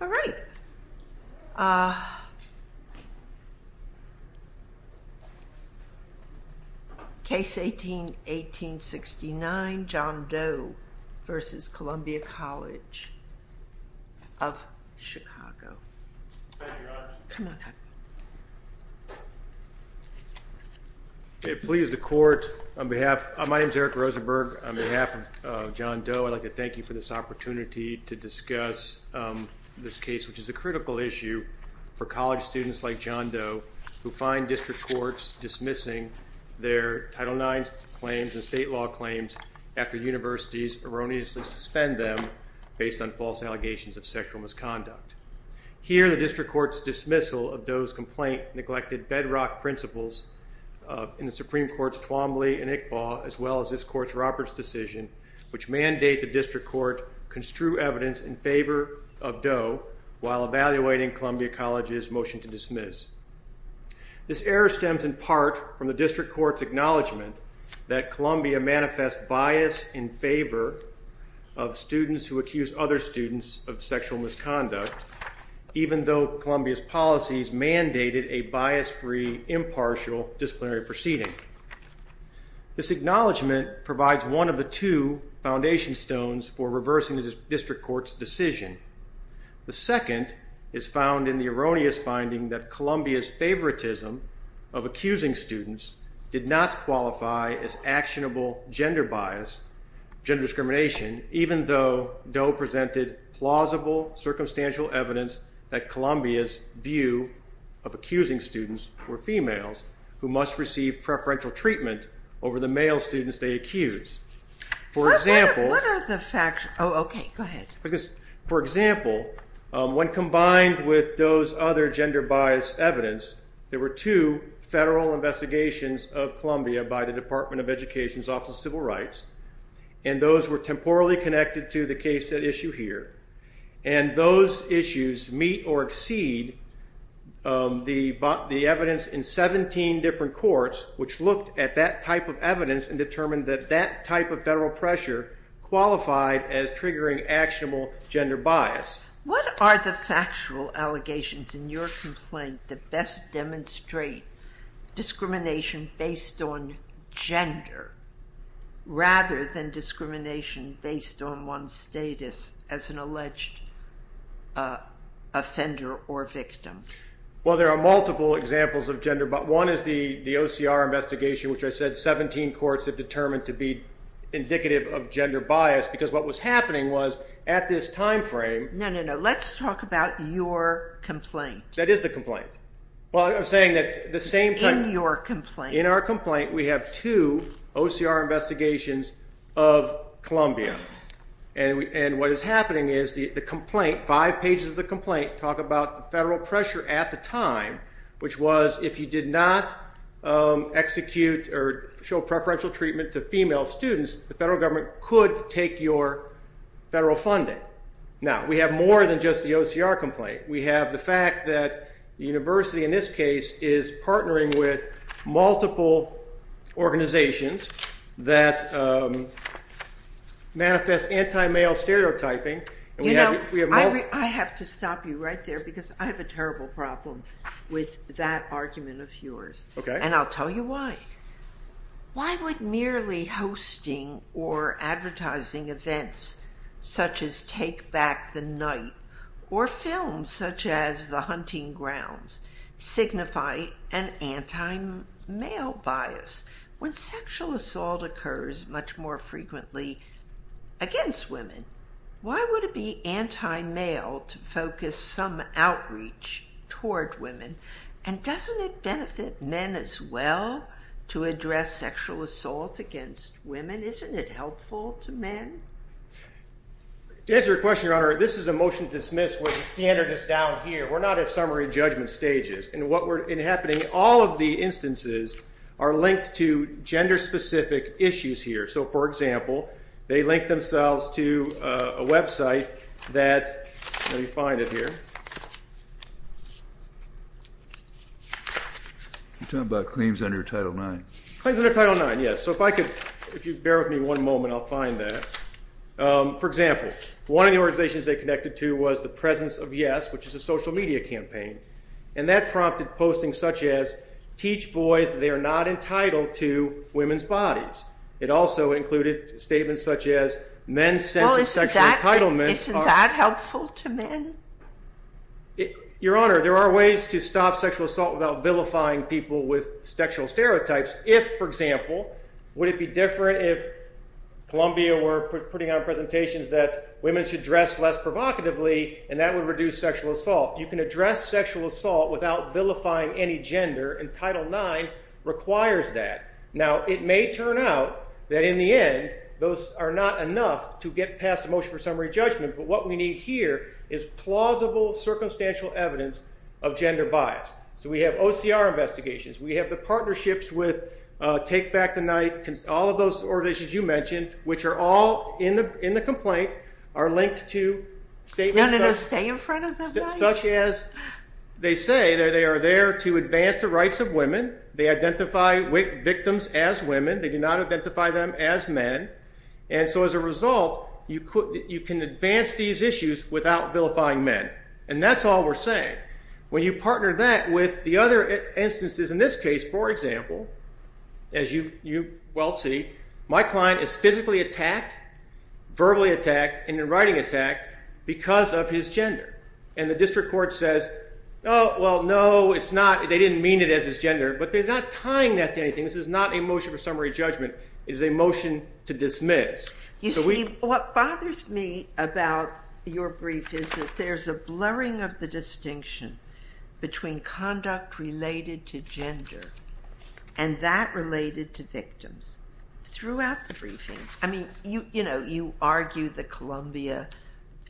All right. Case 18-1869, John Doe v. Columbia College of Chicago. Thank you, Your Honor. Come on up. It pleases the Court, on behalf, my name's Eric Rosenberg. On behalf of John Doe, I'd like to thank you for this opportunity to discuss this case, which is a critical issue for college students like John Doe, who find district courts dismissing their Title IX claims and state law claims after universities erroneously suspend them based on false allegations of sexual misconduct. Here, the district court's dismissal of Doe's complaint neglected bedrock principles in the Supreme Court's Twombly and Iqbal, as well as this court's Roberts decision, which mandate the district court construe evidence in favor of Doe, while evaluating Columbia College's motion to dismiss. This error stems, in part, from the district court's acknowledgment that Columbia manifests bias in favor of students who accuse other students of sexual misconduct, even though Columbia's policies mandated a bias-free, impartial disciplinary proceeding. This acknowledgment provides one of the two foundation stones for reversing the district court's decision. The second is found in the erroneous finding that Columbia's favoritism of accusing students did not qualify as actionable gender bias, gender discrimination, even though Doe presented plausible circumstantial evidence that Columbia's view of accusing students were females, who must receive preferential treatment over the male students they accuse. For example, when combined with Doe's other gender bias evidence, there were two federal investigations of Columbia by the Department of Education's Office of Civil Rights, and those were temporally connected to the case at issue here. And those issues meet or exceed the evidence in 17 different courts, which looked at that type of evidence and determined that that type of federal pressure qualified as triggering actionable gender bias. What are the factual allegations in your complaint that best demonstrate discrimination based on gender rather than discrimination based on one's status as an alleged offender or victim? Well, there are multiple examples of gender bias. One is the OCR investigation, which I said 17 courts have determined to be indicative of gender bias, because what was happening was at this time frame. No, no, no. Let's talk about your complaint. That is the complaint. Well, I'm saying that the same thing. In your complaint. In our complaint, we have two OCR investigations of Columbia, and what is happening is the complaint, five pages of the complaint, talk about the federal pressure at the time, which was if you did not execute or show preferential treatment to female students, the federal government could take your federal funding. Now, we have more than just the OCR complaint. We have the fact that the university, in this case, is partnering with multiple organizations that manifest anti-male stereotyping. I have to stop you right there, because I have a terrible problem with that argument of yours, and I'll tell you why. Why would merely hosting or advertising events, signify an anti-male bias? When sexual assault occurs much more frequently against women, why would it be anti-male to focus some outreach toward women? And doesn't it benefit men as well to address sexual assault against women? Isn't it helpful to men? To answer your question, Your Honor, this is a motion to dismiss with the standardist down here. We're not at summary judgment stages. And what were happening, all of the instances are linked to gender-specific issues here. So for example, they link themselves to a website that, let me find it here. You're talking about claims under Title IX. Claims under Title IX, yes. So if I could, if you bear with me one moment, I'll find that. For example, one of the organizations they connected to was the Presence of Yes, which is a social media campaign. And that prompted postings such as, teach boys they are not entitled to women's bodies. It also included statements such as, men's sense of sexual entitlement are. Isn't that helpful to men? Your Honor, there are ways to stop sexual assault without vilifying people with sexual stereotypes. If, for example, would it be different if Columbia were putting out presentations that women should dress less provocatively, and that would reduce sexual assault. You can address sexual assault without vilifying any gender, and Title IX requires that. Now, it may turn out that in the end, those are not enough to get past a motion for summary judgment. But what we need here is plausible, circumstantial evidence of gender bias. So we have OCR investigations. We have the partnerships with Take Back the Night, all of those organizations you mentioned, which are all in the complaint, are linked to statements such as, No, no, no, stay in front of the mic. Such as, they say that they are there to advance the rights of women. They identify victims as women. They do not identify them as men. And so as a result, you can advance these issues without vilifying men. And that's all we're saying. When you partner that with the other instances, in this case, for example, as you well see, my client is physically attacked, verbally attacked, and in writing attacked, because of his gender. And the district court says, Oh, well, no, it's not. They didn't mean it as his gender. But they're not tying that to anything. This is not a motion for summary judgment. It is a motion to dismiss. You see, what bothers me about your brief is that there's a blurring of the distinction between conduct related to gender and that related to victims. Throughout the briefing. I mean, you argue that Columbia,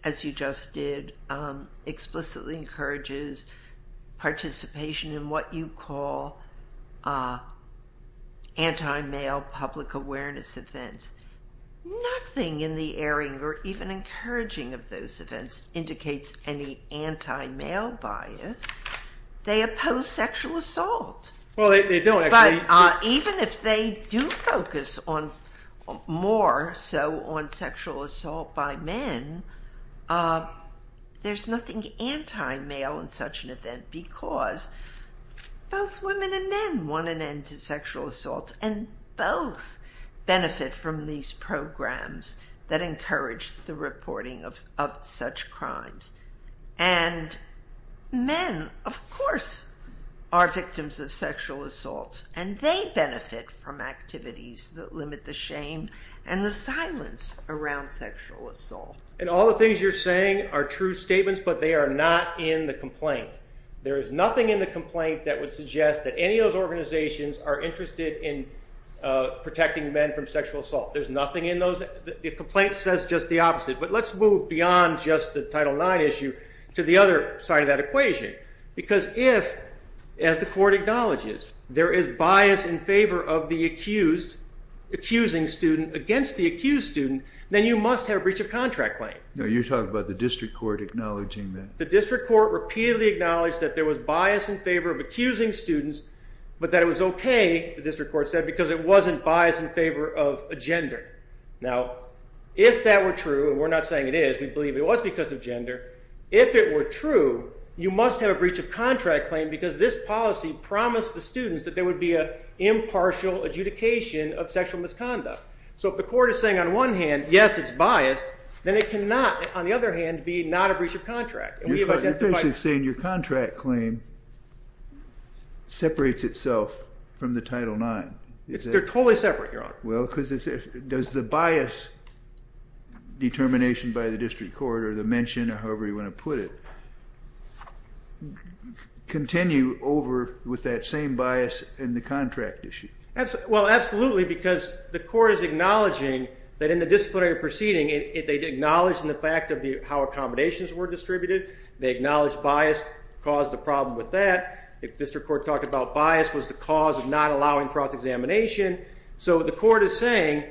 as you just did, explicitly encourages participation in what you call anti-male public awareness events. Nothing in the airing, or even encouraging of those events, indicates any anti-male bias. They oppose sexual assault. Well, they don't actually. Even if they do focus more so on sexual assault by men, there's nothing anti-male in such an event because both women and men want an end to sexual assaults and both benefit from these programs that encourage the reporting of such crimes. And men, of course, are victims of sexual assaults and they benefit from activities that limit the shame and the silence around sexual assault. And all the things you're saying are true statements, but they are not in the complaint. There is nothing in the complaint that would suggest that any of those organizations are interested in protecting men from sexual assault. There's nothing in those. The complaint says just the opposite. But let's move beyond just the Title IX issue to the other side of that equation. Because if, as the court acknowledges, there is bias in favor of the accused, accusing student against the accused student, then you must have breach of contract claim. No, you're talking about the district court acknowledging that. The district court repeatedly acknowledged that there was bias in favor of accusing students, because it wasn't bias in favor of a gender. Now, if that were true, and we're not saying it is, we believe it was because of gender, if it were true, you must have a breach of contract claim because this policy promised the students that there would be an impartial adjudication of sexual misconduct. So if the court is saying on one hand, yes, it's biased, then it cannot, on the other hand, be not a breach of contract. And we have identified- You're basically saying your contract claim separates itself from the Title IX. They're totally separate, Your Honor. Well, because does the bias determination by the district court or the mention, or however you wanna put it, continue over with that same bias in the contract issue? Well, absolutely, because the court is acknowledging that in the disciplinary proceeding, they'd acknowledged in the fact of how accommodations were distributed. They acknowledged bias caused the problem with that. If district court talked about bias was the cause of not allowing cross-examination. So the court is saying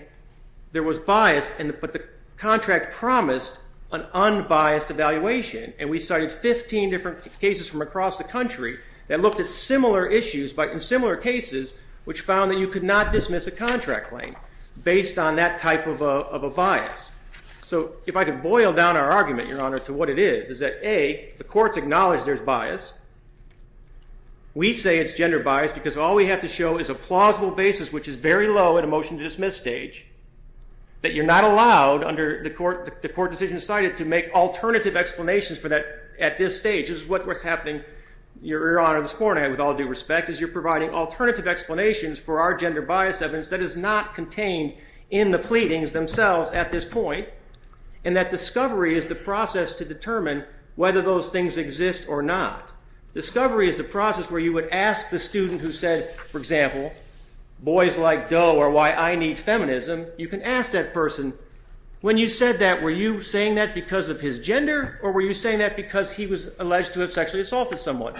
there was bias, but the contract promised an unbiased evaluation. And we cited 15 different cases from across the country that looked at similar issues, but in similar cases, which found that you could not dismiss a contract claim based on that type of a bias. So if I could boil down our argument, Your Honor, to what it is, is that A, the court's acknowledged there's bias. We say it's gender bias because all we have to show is a plausible basis, which is very low at a motion to dismiss stage, that you're not allowed under the court decision cited to make alternative explanations for that at this stage. This is what's happening, Your Honor, this morning with all due respect, is you're providing alternative explanations for our gender bias evidence that is not contained in the pleadings themselves at this point. And that discovery is the process to determine whether those things exist or not. Discovery is the process where you would ask the student who said, for example, boys like Doe are why I need feminism. You can ask that person, when you said that, were you saying that because of his gender or were you saying that because he was alleged to have sexually assaulted someone?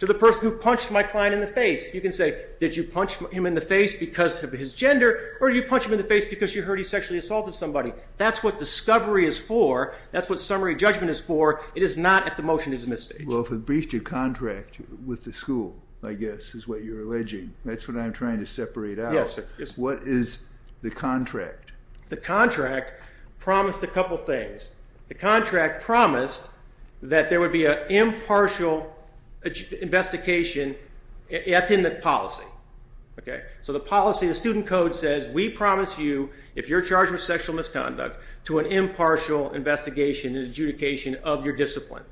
To the person who punched my client in the face, you can say, did you punch him in the face because of his gender or did you punch him in the face because you heard he sexually assaulted somebody? That's what discovery is for. That's what summary judgment is for. It is not at the motion to dismiss stage. Well, if it breached your contract with the school, I guess, is what you're alleging. That's what I'm trying to separate out. What is the contract? The contract promised a couple things. The contract promised that there would be an impartial investigation. That's in the policy. So the policy, the student code says, we promise you, if you're charged with sexual misconduct, to an impartial investigation and adjudication of your discipline.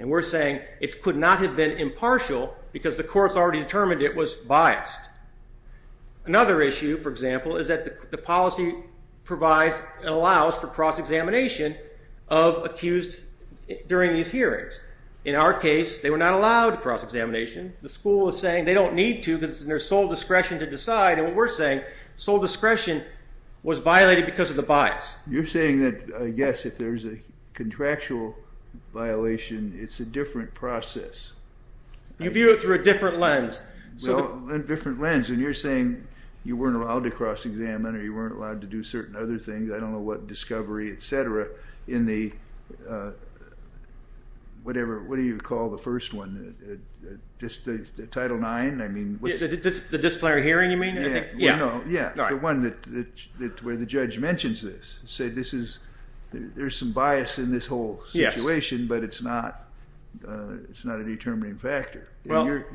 And we're saying it could not have been impartial because the courts already determined it was biased. Another issue, for example, is that the policy provides and allows for cross-examination of accused during these hearings. In our case, they were not allowed cross-examination. The school is saying they don't need to because it's in their sole discretion to decide. And what we're saying, sole discretion was violated because of the bias. You're saying that, yes, if there's a contractual violation, it's a different process. You view it through a different lens. Well, a different lens. And you're saying you weren't allowed to cross-examine or you weren't allowed to do certain other things. I don't know what discovery, et cetera, in the whatever, what do you call the first one? Just the Title IX? I mean, what's it? The disciplinary hearing, you mean? Yeah, the one where the judge mentions this, said there's some bias in this whole situation, but it's not a determining factor. Let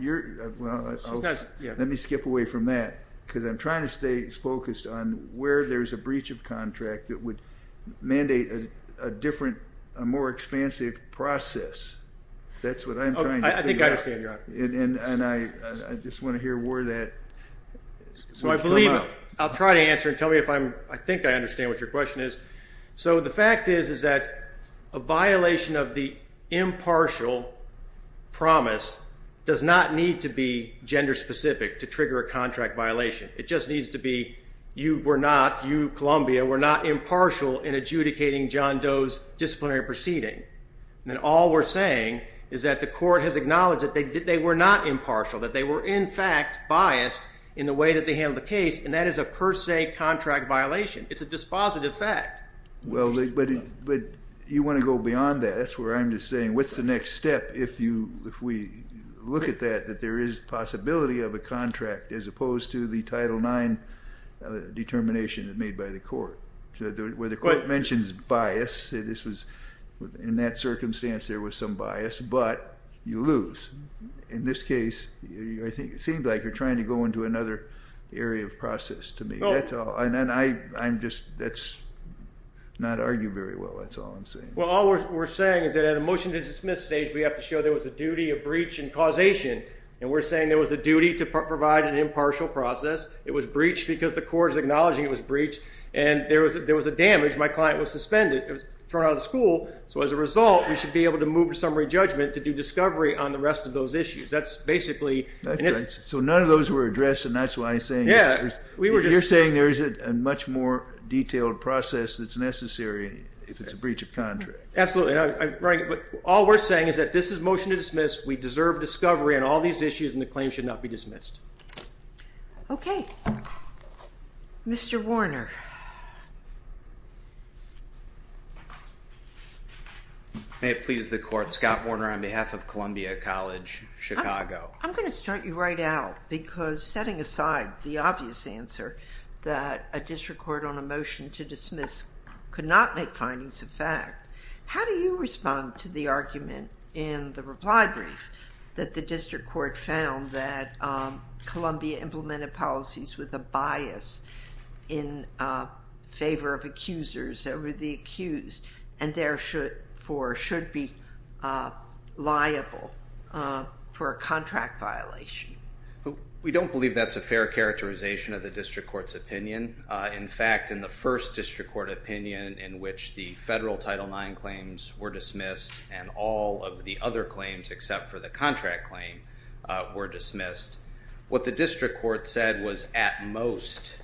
me skip away from that. Because I'm trying to stay focused on where there's a breach of contract that would mandate a different, a more expansive process. That's what I'm trying to figure out. I think I understand, Your Honor. And I just want to hear where that would come out. So I believe, I'll try to answer and tell me if I think I understand what your question is. So the fact is that a violation of the impartial promise does not need to be gender-specific to trigger a contract violation. It just needs to be, you were not, you, Columbia, were not impartial in adjudicating John Doe's disciplinary proceeding. And all we're saying is that the court has acknowledged that they were not impartial, that they were, in fact, biased in the way that they handled the case. And that is a per se contract violation. It's a dispositive fact. Well, but you want to go beyond that. That's where I'm just saying, what's the next step if we look at that, that there is possibility of a contract, as opposed to the Title IX determination that's made by the court, where the court mentions bias. In that circumstance, there was some bias. But you lose. In this case, it seemed like you're trying to go into another area of process to me. And then I'm just, that's not argued very well. That's all I'm saying. Well, all we're saying is that at a motion to dismiss stage, we have to show there was a duty of breach and causation. And we're saying there was a duty to provide an impartial process. It was breached because the court is acknowledging it was breached. And there was a damage. My client was suspended, thrown out of the school. So as a result, we should be able to move to summary judgment to do discovery on the rest of those issues. That's basically. So none of those were addressed. And that's why I'm saying, if you're saying there is a much more detailed process that's necessary, if it's a breach of contract. Absolutely. But all we're saying is that this is motion to dismiss. We deserve discovery on all these issues. And the claim should not be dismissed. OK. Mr. Warner. May it please the court. Scott Warner on behalf of Columbia College, Chicago. I'm going to start you right out. Because setting aside the obvious answer that a district court on a motion to dismiss could not make findings of fact, how do you respond to the argument in the reply brief that the district court found that Columbia implemented policies with a bias in favor of accusers that were the accused and therefore should be liable for a contract violation? We don't believe that's a fair characterization of the district court's opinion. In fact, in the first district court opinion in which the federal Title IX claims were dismissed and all of the other claims except for the contract claim were dismissed, what the district court said was at most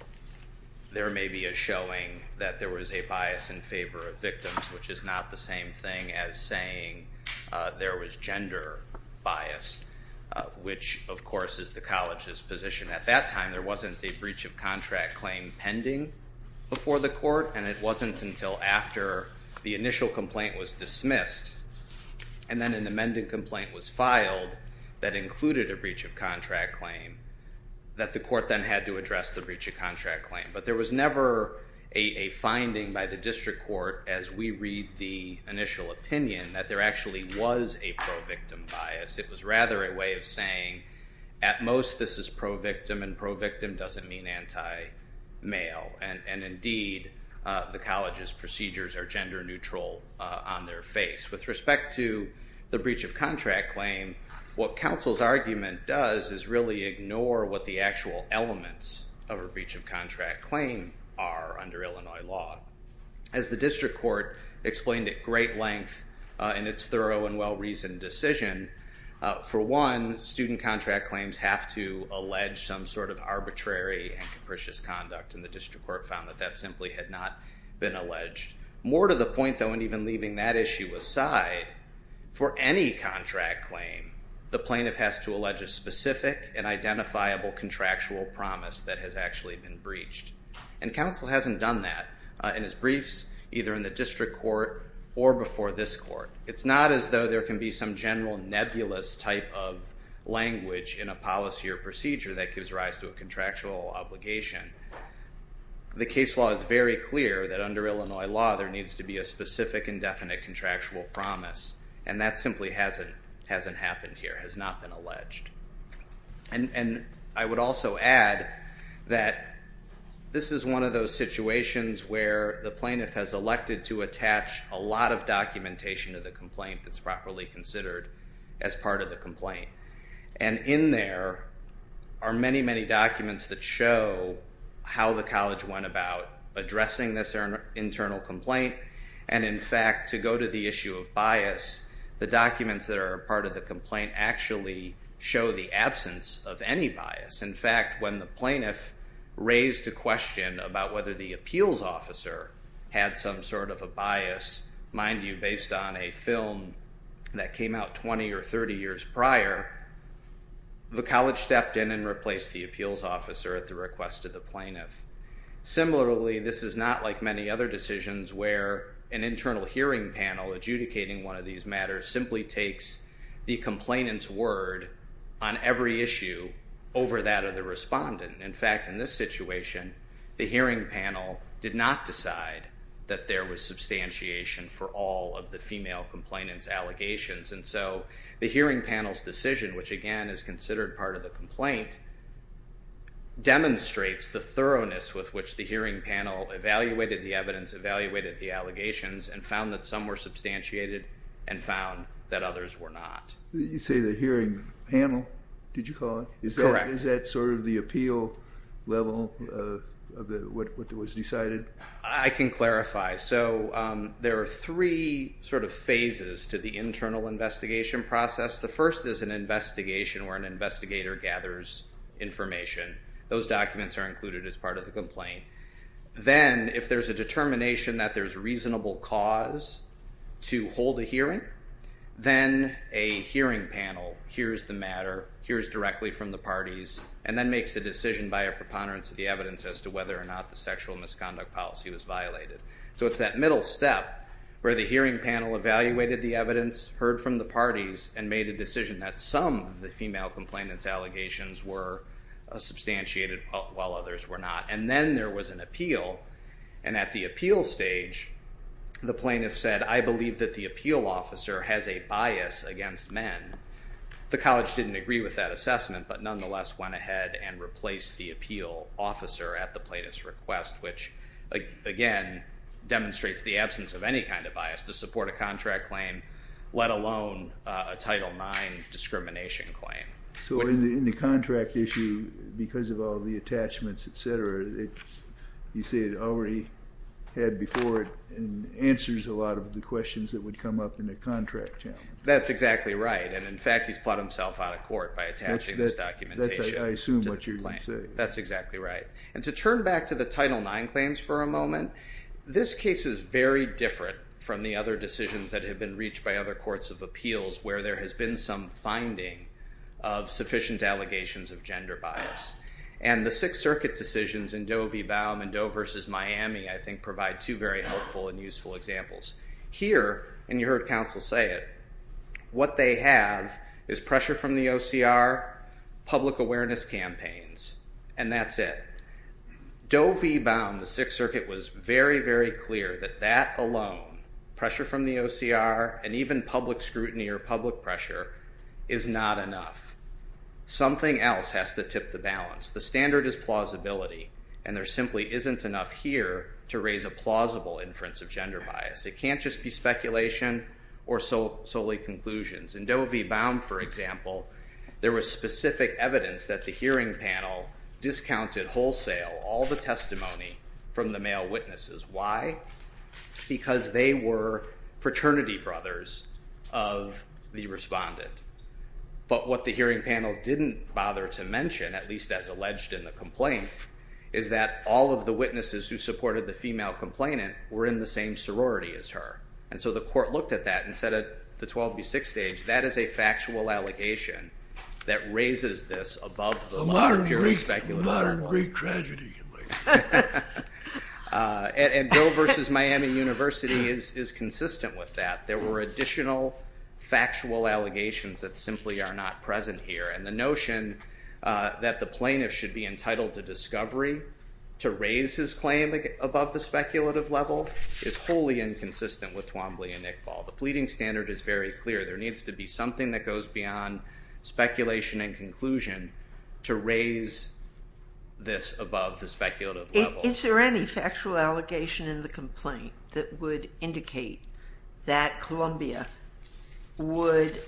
there may be a showing that there was a bias in favor of victims, which is not the same thing as saying there was gender bias, which, of course, is the college's position. At that time, there wasn't a breach of contract claim pending before the court. And it wasn't until after the initial complaint was dismissed and then an amended complaint was filed that included a breach of contract claim that the court then had to address the breach of contract claim. But there was never a finding by the district court as we read the initial opinion that there actually was a pro-victim bias. It was rather a way of saying at most this is pro-victim and pro-victim doesn't mean anti-male. And indeed, the college's procedures are gender neutral on their face. With respect to the breach of contract claim, what counsel's argument does is really ignore what the actual elements of a breach of contract claim are under Illinois law. As the district court explained at great length in its thorough and well-reasoned decision, for one, student contract claims have to allege some sort of arbitrary and capricious conduct. And the district court found that that simply had not been alleged. More to the point, though, and even leaving that issue aside, for any contract claim, the plaintiff has to allege a specific and identifiable contractual promise that has actually been breached. And counsel hasn't done that in his briefs, either in the district court or before this court. It's not as though there can be some general nebulous type of language in a policy or procedure that gives rise to a contractual obligation. The case law is very clear that under Illinois law, there needs to be a specific and definite contractual promise. And that simply hasn't happened here, has not been alleged. And I would also add that this is one of those situations where the plaintiff has elected to attach a lot of documentation to the complaint that's properly considered as part of the complaint. And in there are many, many documents that show how the college went about addressing this internal complaint. And in fact, to go to the issue of bias, the documents that are part of the complaint actually show the absence of any bias. In fact, when the plaintiff raised a question about whether the appeals officer had some sort of a bias, mind you, based on a film that came out 20 or 30 years prior, the college stepped in and replaced the appeals officer at the request of the plaintiff. Similarly, this is not like many other decisions where an internal hearing panel adjudicating one of these matters simply takes the complainant's word on every issue over that of the respondent. In fact, in this situation, the hearing panel did not decide that there was substantiation for all of the female complainant's allegations. And so the hearing panel's decision, which again is considered part of the complaint, demonstrates the thoroughness with which the hearing panel evaluated the evidence, evaluated the allegations, and found that some were substantiated and found that others were not. You say the hearing panel, did you call it? Correct. Is that sort of the appeal level of what was decided? I can clarify. So there are three sort of phases to the internal investigation process. The first is an investigation where an investigator gathers information. Those documents are included as part of the complaint. Then, if there's a determination that there's reasonable cause to hold a hearing, then a hearing panel hears the matter, hears directly from the parties, and then makes a decision by a preponderance of the evidence as to whether or not the sexual misconduct policy was violated. So it's that middle step where the hearing panel evaluated the evidence, heard from the parties, and made a decision that some of the female complainant's allegations were substantiated while others were not. And then there was an appeal. And at the appeal stage, the plaintiff said, I believe that the appeal officer has a bias against men. The college didn't agree with that assessment, but nonetheless went ahead and replaced the appeal officer at the plaintiff's request, which, again, demonstrates the absence of any kind of bias to support a contract claim, let alone a Title IX discrimination claim. So in the contract issue, because of all the attachments, et cetera, you say it already had before it answers a lot of the questions that would come up in a contract. That's exactly right. And in fact, he's put himself out of court by attaching this documentation. That's, I assume, what you're saying. That's exactly right. And to turn back to the Title IX claims for a moment, this case is very different from the other decisions that have been reached by other courts of appeals where there has been some finding of sufficient allegations of gender bias. And the Sixth Circuit decisions in Doe v. Baum and Doe v. Miami, I think, provide two very helpful and useful examples. Here, and you heard counsel say it, what they have is pressure from the OCR, public awareness campaigns, and that's it. Doe v. Baum, the Sixth Circuit was very, very clear that that alone, pressure from the OCR, and even public scrutiny or public pressure, is not enough. Something else has to tip the balance. The standard is plausibility. And there simply isn't enough here to raise a plausible inference of gender bias. It can't just be speculation or solely conclusions. In Doe v. Baum, for example, there was specific evidence that the hearing panel discounted wholesale all the testimony from the male witnesses. Why? Because they were fraternity brothers of the respondent. But what the hearing panel didn't bother to mention, at least as alleged in the complaint, is that all of the witnesses who supported the female complainant were in the same sorority as her. And so the court looked at that and said, at the 12 v. 6 stage, that is a factual allegation that raises this above the purely speculative one. The modern Greek tragedy, you might say. And Doe v. Miami University is consistent with that. There were additional factual allegations that simply are not present here. And the notion that the plaintiff should be entitled to discovery to raise his claim above the speculative level is wholly inconsistent with Twombly and Iqbal. The pleading standard is very clear. There needs to be something that goes beyond speculation and conclusion to raise this above the speculative level. Is there any factual allegation in the complaint that would indicate that Columbia would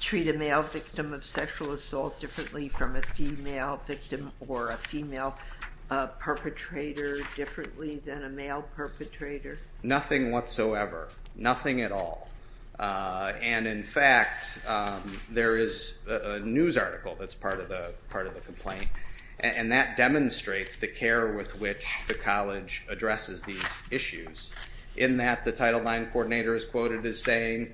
treat a male victim of sexual assault differently from a female victim or a female perpetrator differently than a male perpetrator? Nothing whatsoever. Nothing at all. And in fact, there is a news article that's part of the complaint. And that demonstrates the care with which the college addresses these issues. In that, the Title IX coordinator is quoted as saying,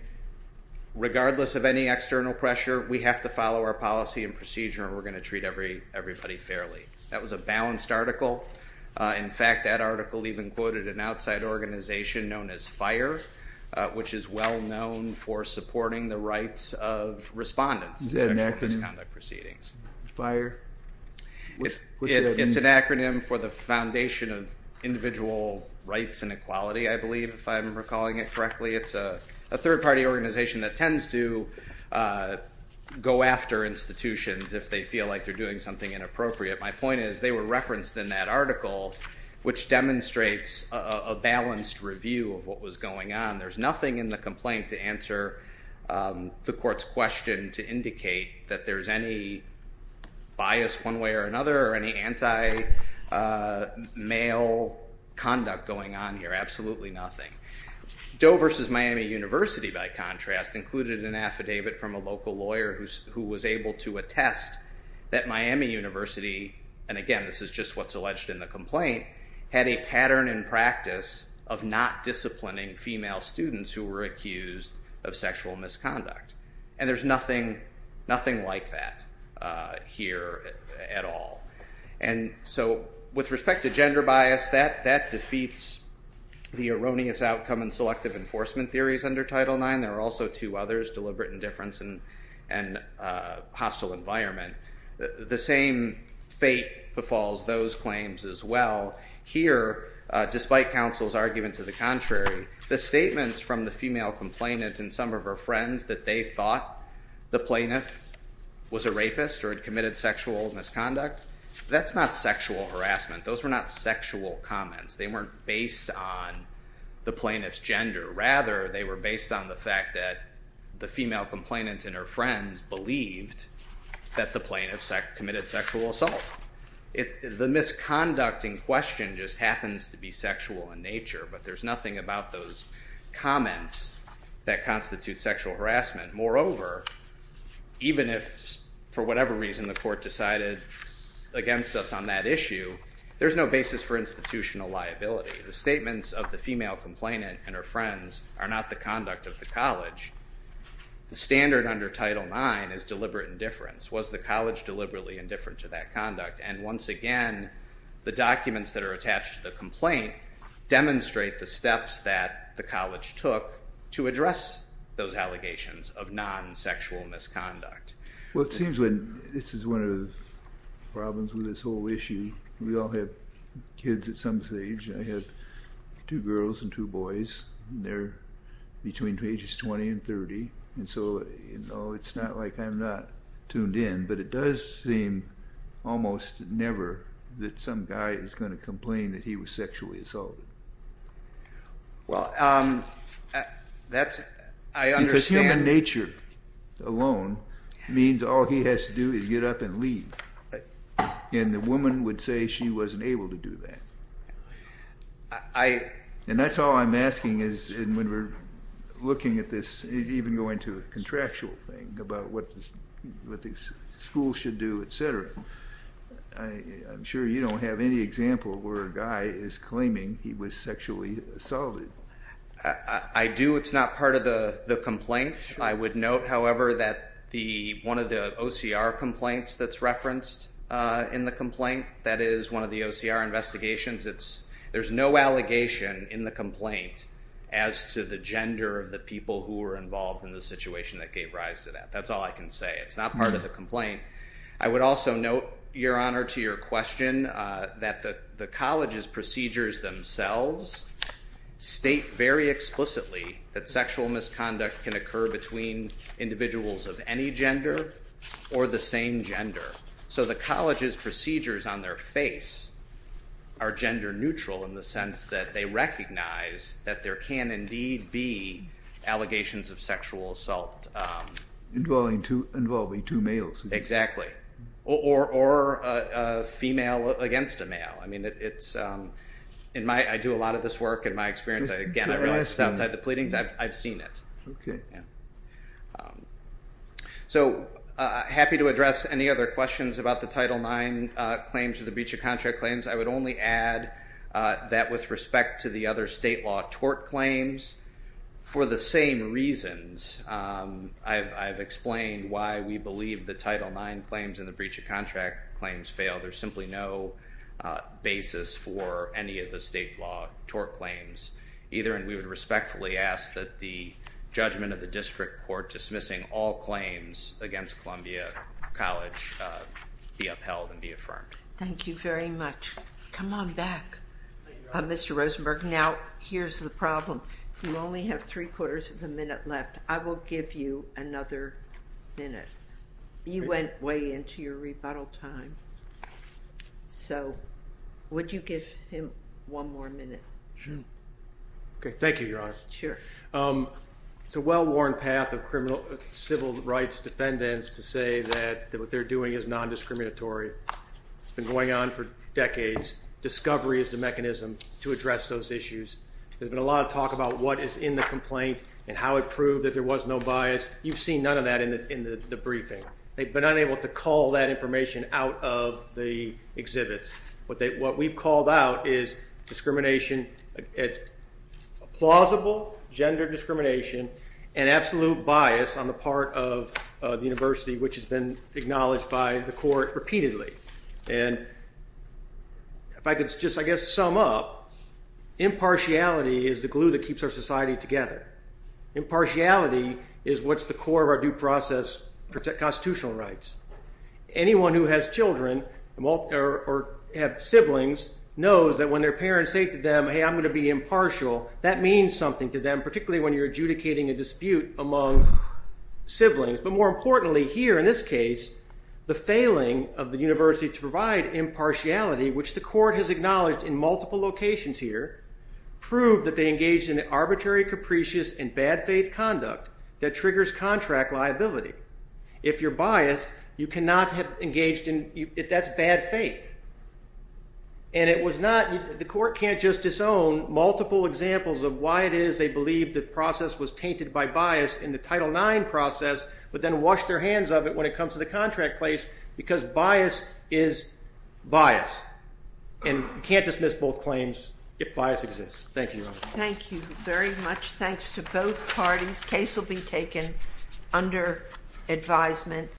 regardless of any external pressure, we have to follow our policy and procedure and we're going to treat everybody fairly. That was a balanced article. In fact, that article even quoted an outside organization known as FIRE, which is well known for supporting the rights of respondents to sexual misconduct proceedings. FIRE? It's an acronym for the Foundation of Individual Rights and Equality, I believe, if I'm recalling it correctly. It's a third party organization that tends to go after institutions if they feel like they're doing something inappropriate. My point is they were referenced in that article, which demonstrates a balanced review of what was going on. There's nothing in the complaint to answer the court's question to indicate that there's any bias one way or another or any anti-male conduct going on here. Absolutely nothing. Doe versus Miami University, by contrast, included an affidavit from a local lawyer who was able to attest that Miami University, and again, this is just what's alleged in the complaint, had a pattern in practice of not disciplining female students who were accused of sexual misconduct. And there's nothing like that here at all. And so with respect to gender bias, that defeats the erroneous outcome in selective enforcement theories under Title IX. There are also two others, deliberate indifference and hostile environment. The same fate befalls those claims as well. Here, despite counsel's argument to the contrary, the statements from the female complainant and some of her friends that they thought the plaintiff was a rapist or had committed sexual misconduct, that's not sexual harassment. Those were not sexual comments. They weren't based on the plaintiff's gender. Rather, they were based on the fact that the female complainant and her friends believed that the plaintiff committed sexual assault. The misconduct in question just happens to be sexual in nature, but there's nothing about those comments that constitute sexual harassment. Moreover, even if for whatever reason the court decided against us on that issue, there's no basis for institutional liability. The statements of the female complainant and her friends are not the conduct of the college. The standard under Title IX is deliberate indifference. Was the college deliberately indifferent to that conduct? And once again, the documents that are attached to the complaint demonstrate the steps that the college took to address those allegations of non-sexual misconduct. Well, it seems when this is one of the problems with this whole issue, we all have kids at some stage. I have two girls and two boys, and they're between ages 20 and 30. And so it's not like I'm not tuned in, but it does seem almost never that some guy is going to complain that he was sexually assaulted. Well, that's, I understand. Because human nature alone means all he has to do is get up and leave. And the woman would say she wasn't able to do that. And that's all I'm asking is when we're looking at this, even going to a contractual thing about what the school should do, et cetera. I'm sure you don't have any example where a guy is claiming he was sexually assaulted. I do. It's not part of the complaint. I would note, however, that one of the OCR complaints that's referenced in the complaint, that is one of the OCR investigations, there's no allegation in the complaint as to the gender of the people who were involved in the situation that gave rise to that. That's all I can say. It's not part of the complaint. I would also note, Your Honor, to your question that the college's procedures themselves state very explicitly that sexual misconduct can occur between individuals of any gender or the same gender. So the college's procedures on their face are gender neutral in the sense that they recognize that there can indeed be allegations of sexual assault. Involving two males. Exactly. Or a female against a male. I mean, I do a lot of this work. In my experience, again, I realize it's outside the pleadings. I've seen it. So happy to address any other questions about the Title IX claims or the breach of contract claims. I would only add that with respect to the other state law tort claims, for the same reasons I've explained why we believe the Title IX claims and the breach of contract claims fail. There's simply no basis for any of the state law tort claims either. And we would respectfully ask that the judgment of the district court dismissing all claims against Columbia College be upheld and be affirmed. Thank you very much. Come on back, Mr. Rosenberg. Now, here's the problem. You only have 3 quarters of a minute left. I will give you another minute. You went way into your rebuttal time. So would you give him one more minute? Thank you, Your Honor. Sure. It's a well-worn path of civil rights defendants to say that what they're doing is non-discriminatory. It's been going on for decades. Discovery is the mechanism to address those issues. There's been a lot of talk about what is in the complaint and how it proved that there was no bias. You've seen none of that in the briefing. They've been unable to call that information out of the exhibits. But what we've called out is discrimination, plausible gender discrimination, and absolute bias on the part of the university, which has been acknowledged by the court repeatedly. And if I could just, I guess, sum up, impartiality is the glue that keeps our society together. Impartiality is what's the core of our due process constitutional rights. Anyone who has children or have siblings knows that when their parents say to them, hey, I'm going to be impartial, that means something to them, particularly when you're adjudicating a dispute among siblings. But more importantly here, in this case, the failing of the university to provide impartiality, which the court has acknowledged in multiple locations here, proved that they engaged in arbitrary, capricious, and bad faith conduct that triggers contract liability. If you're biased, you cannot have engaged in, that's bad faith. And it was not, the court can't just disown multiple examples of why it is they believe the process was tainted by bias in the Title IX process, but then washed their hands of it when it comes to the contract place, because bias is bias. And you can't dismiss both claims if bias exists. Thank you. Thank you very much. Thanks to both parties. Case will be taken under advisement.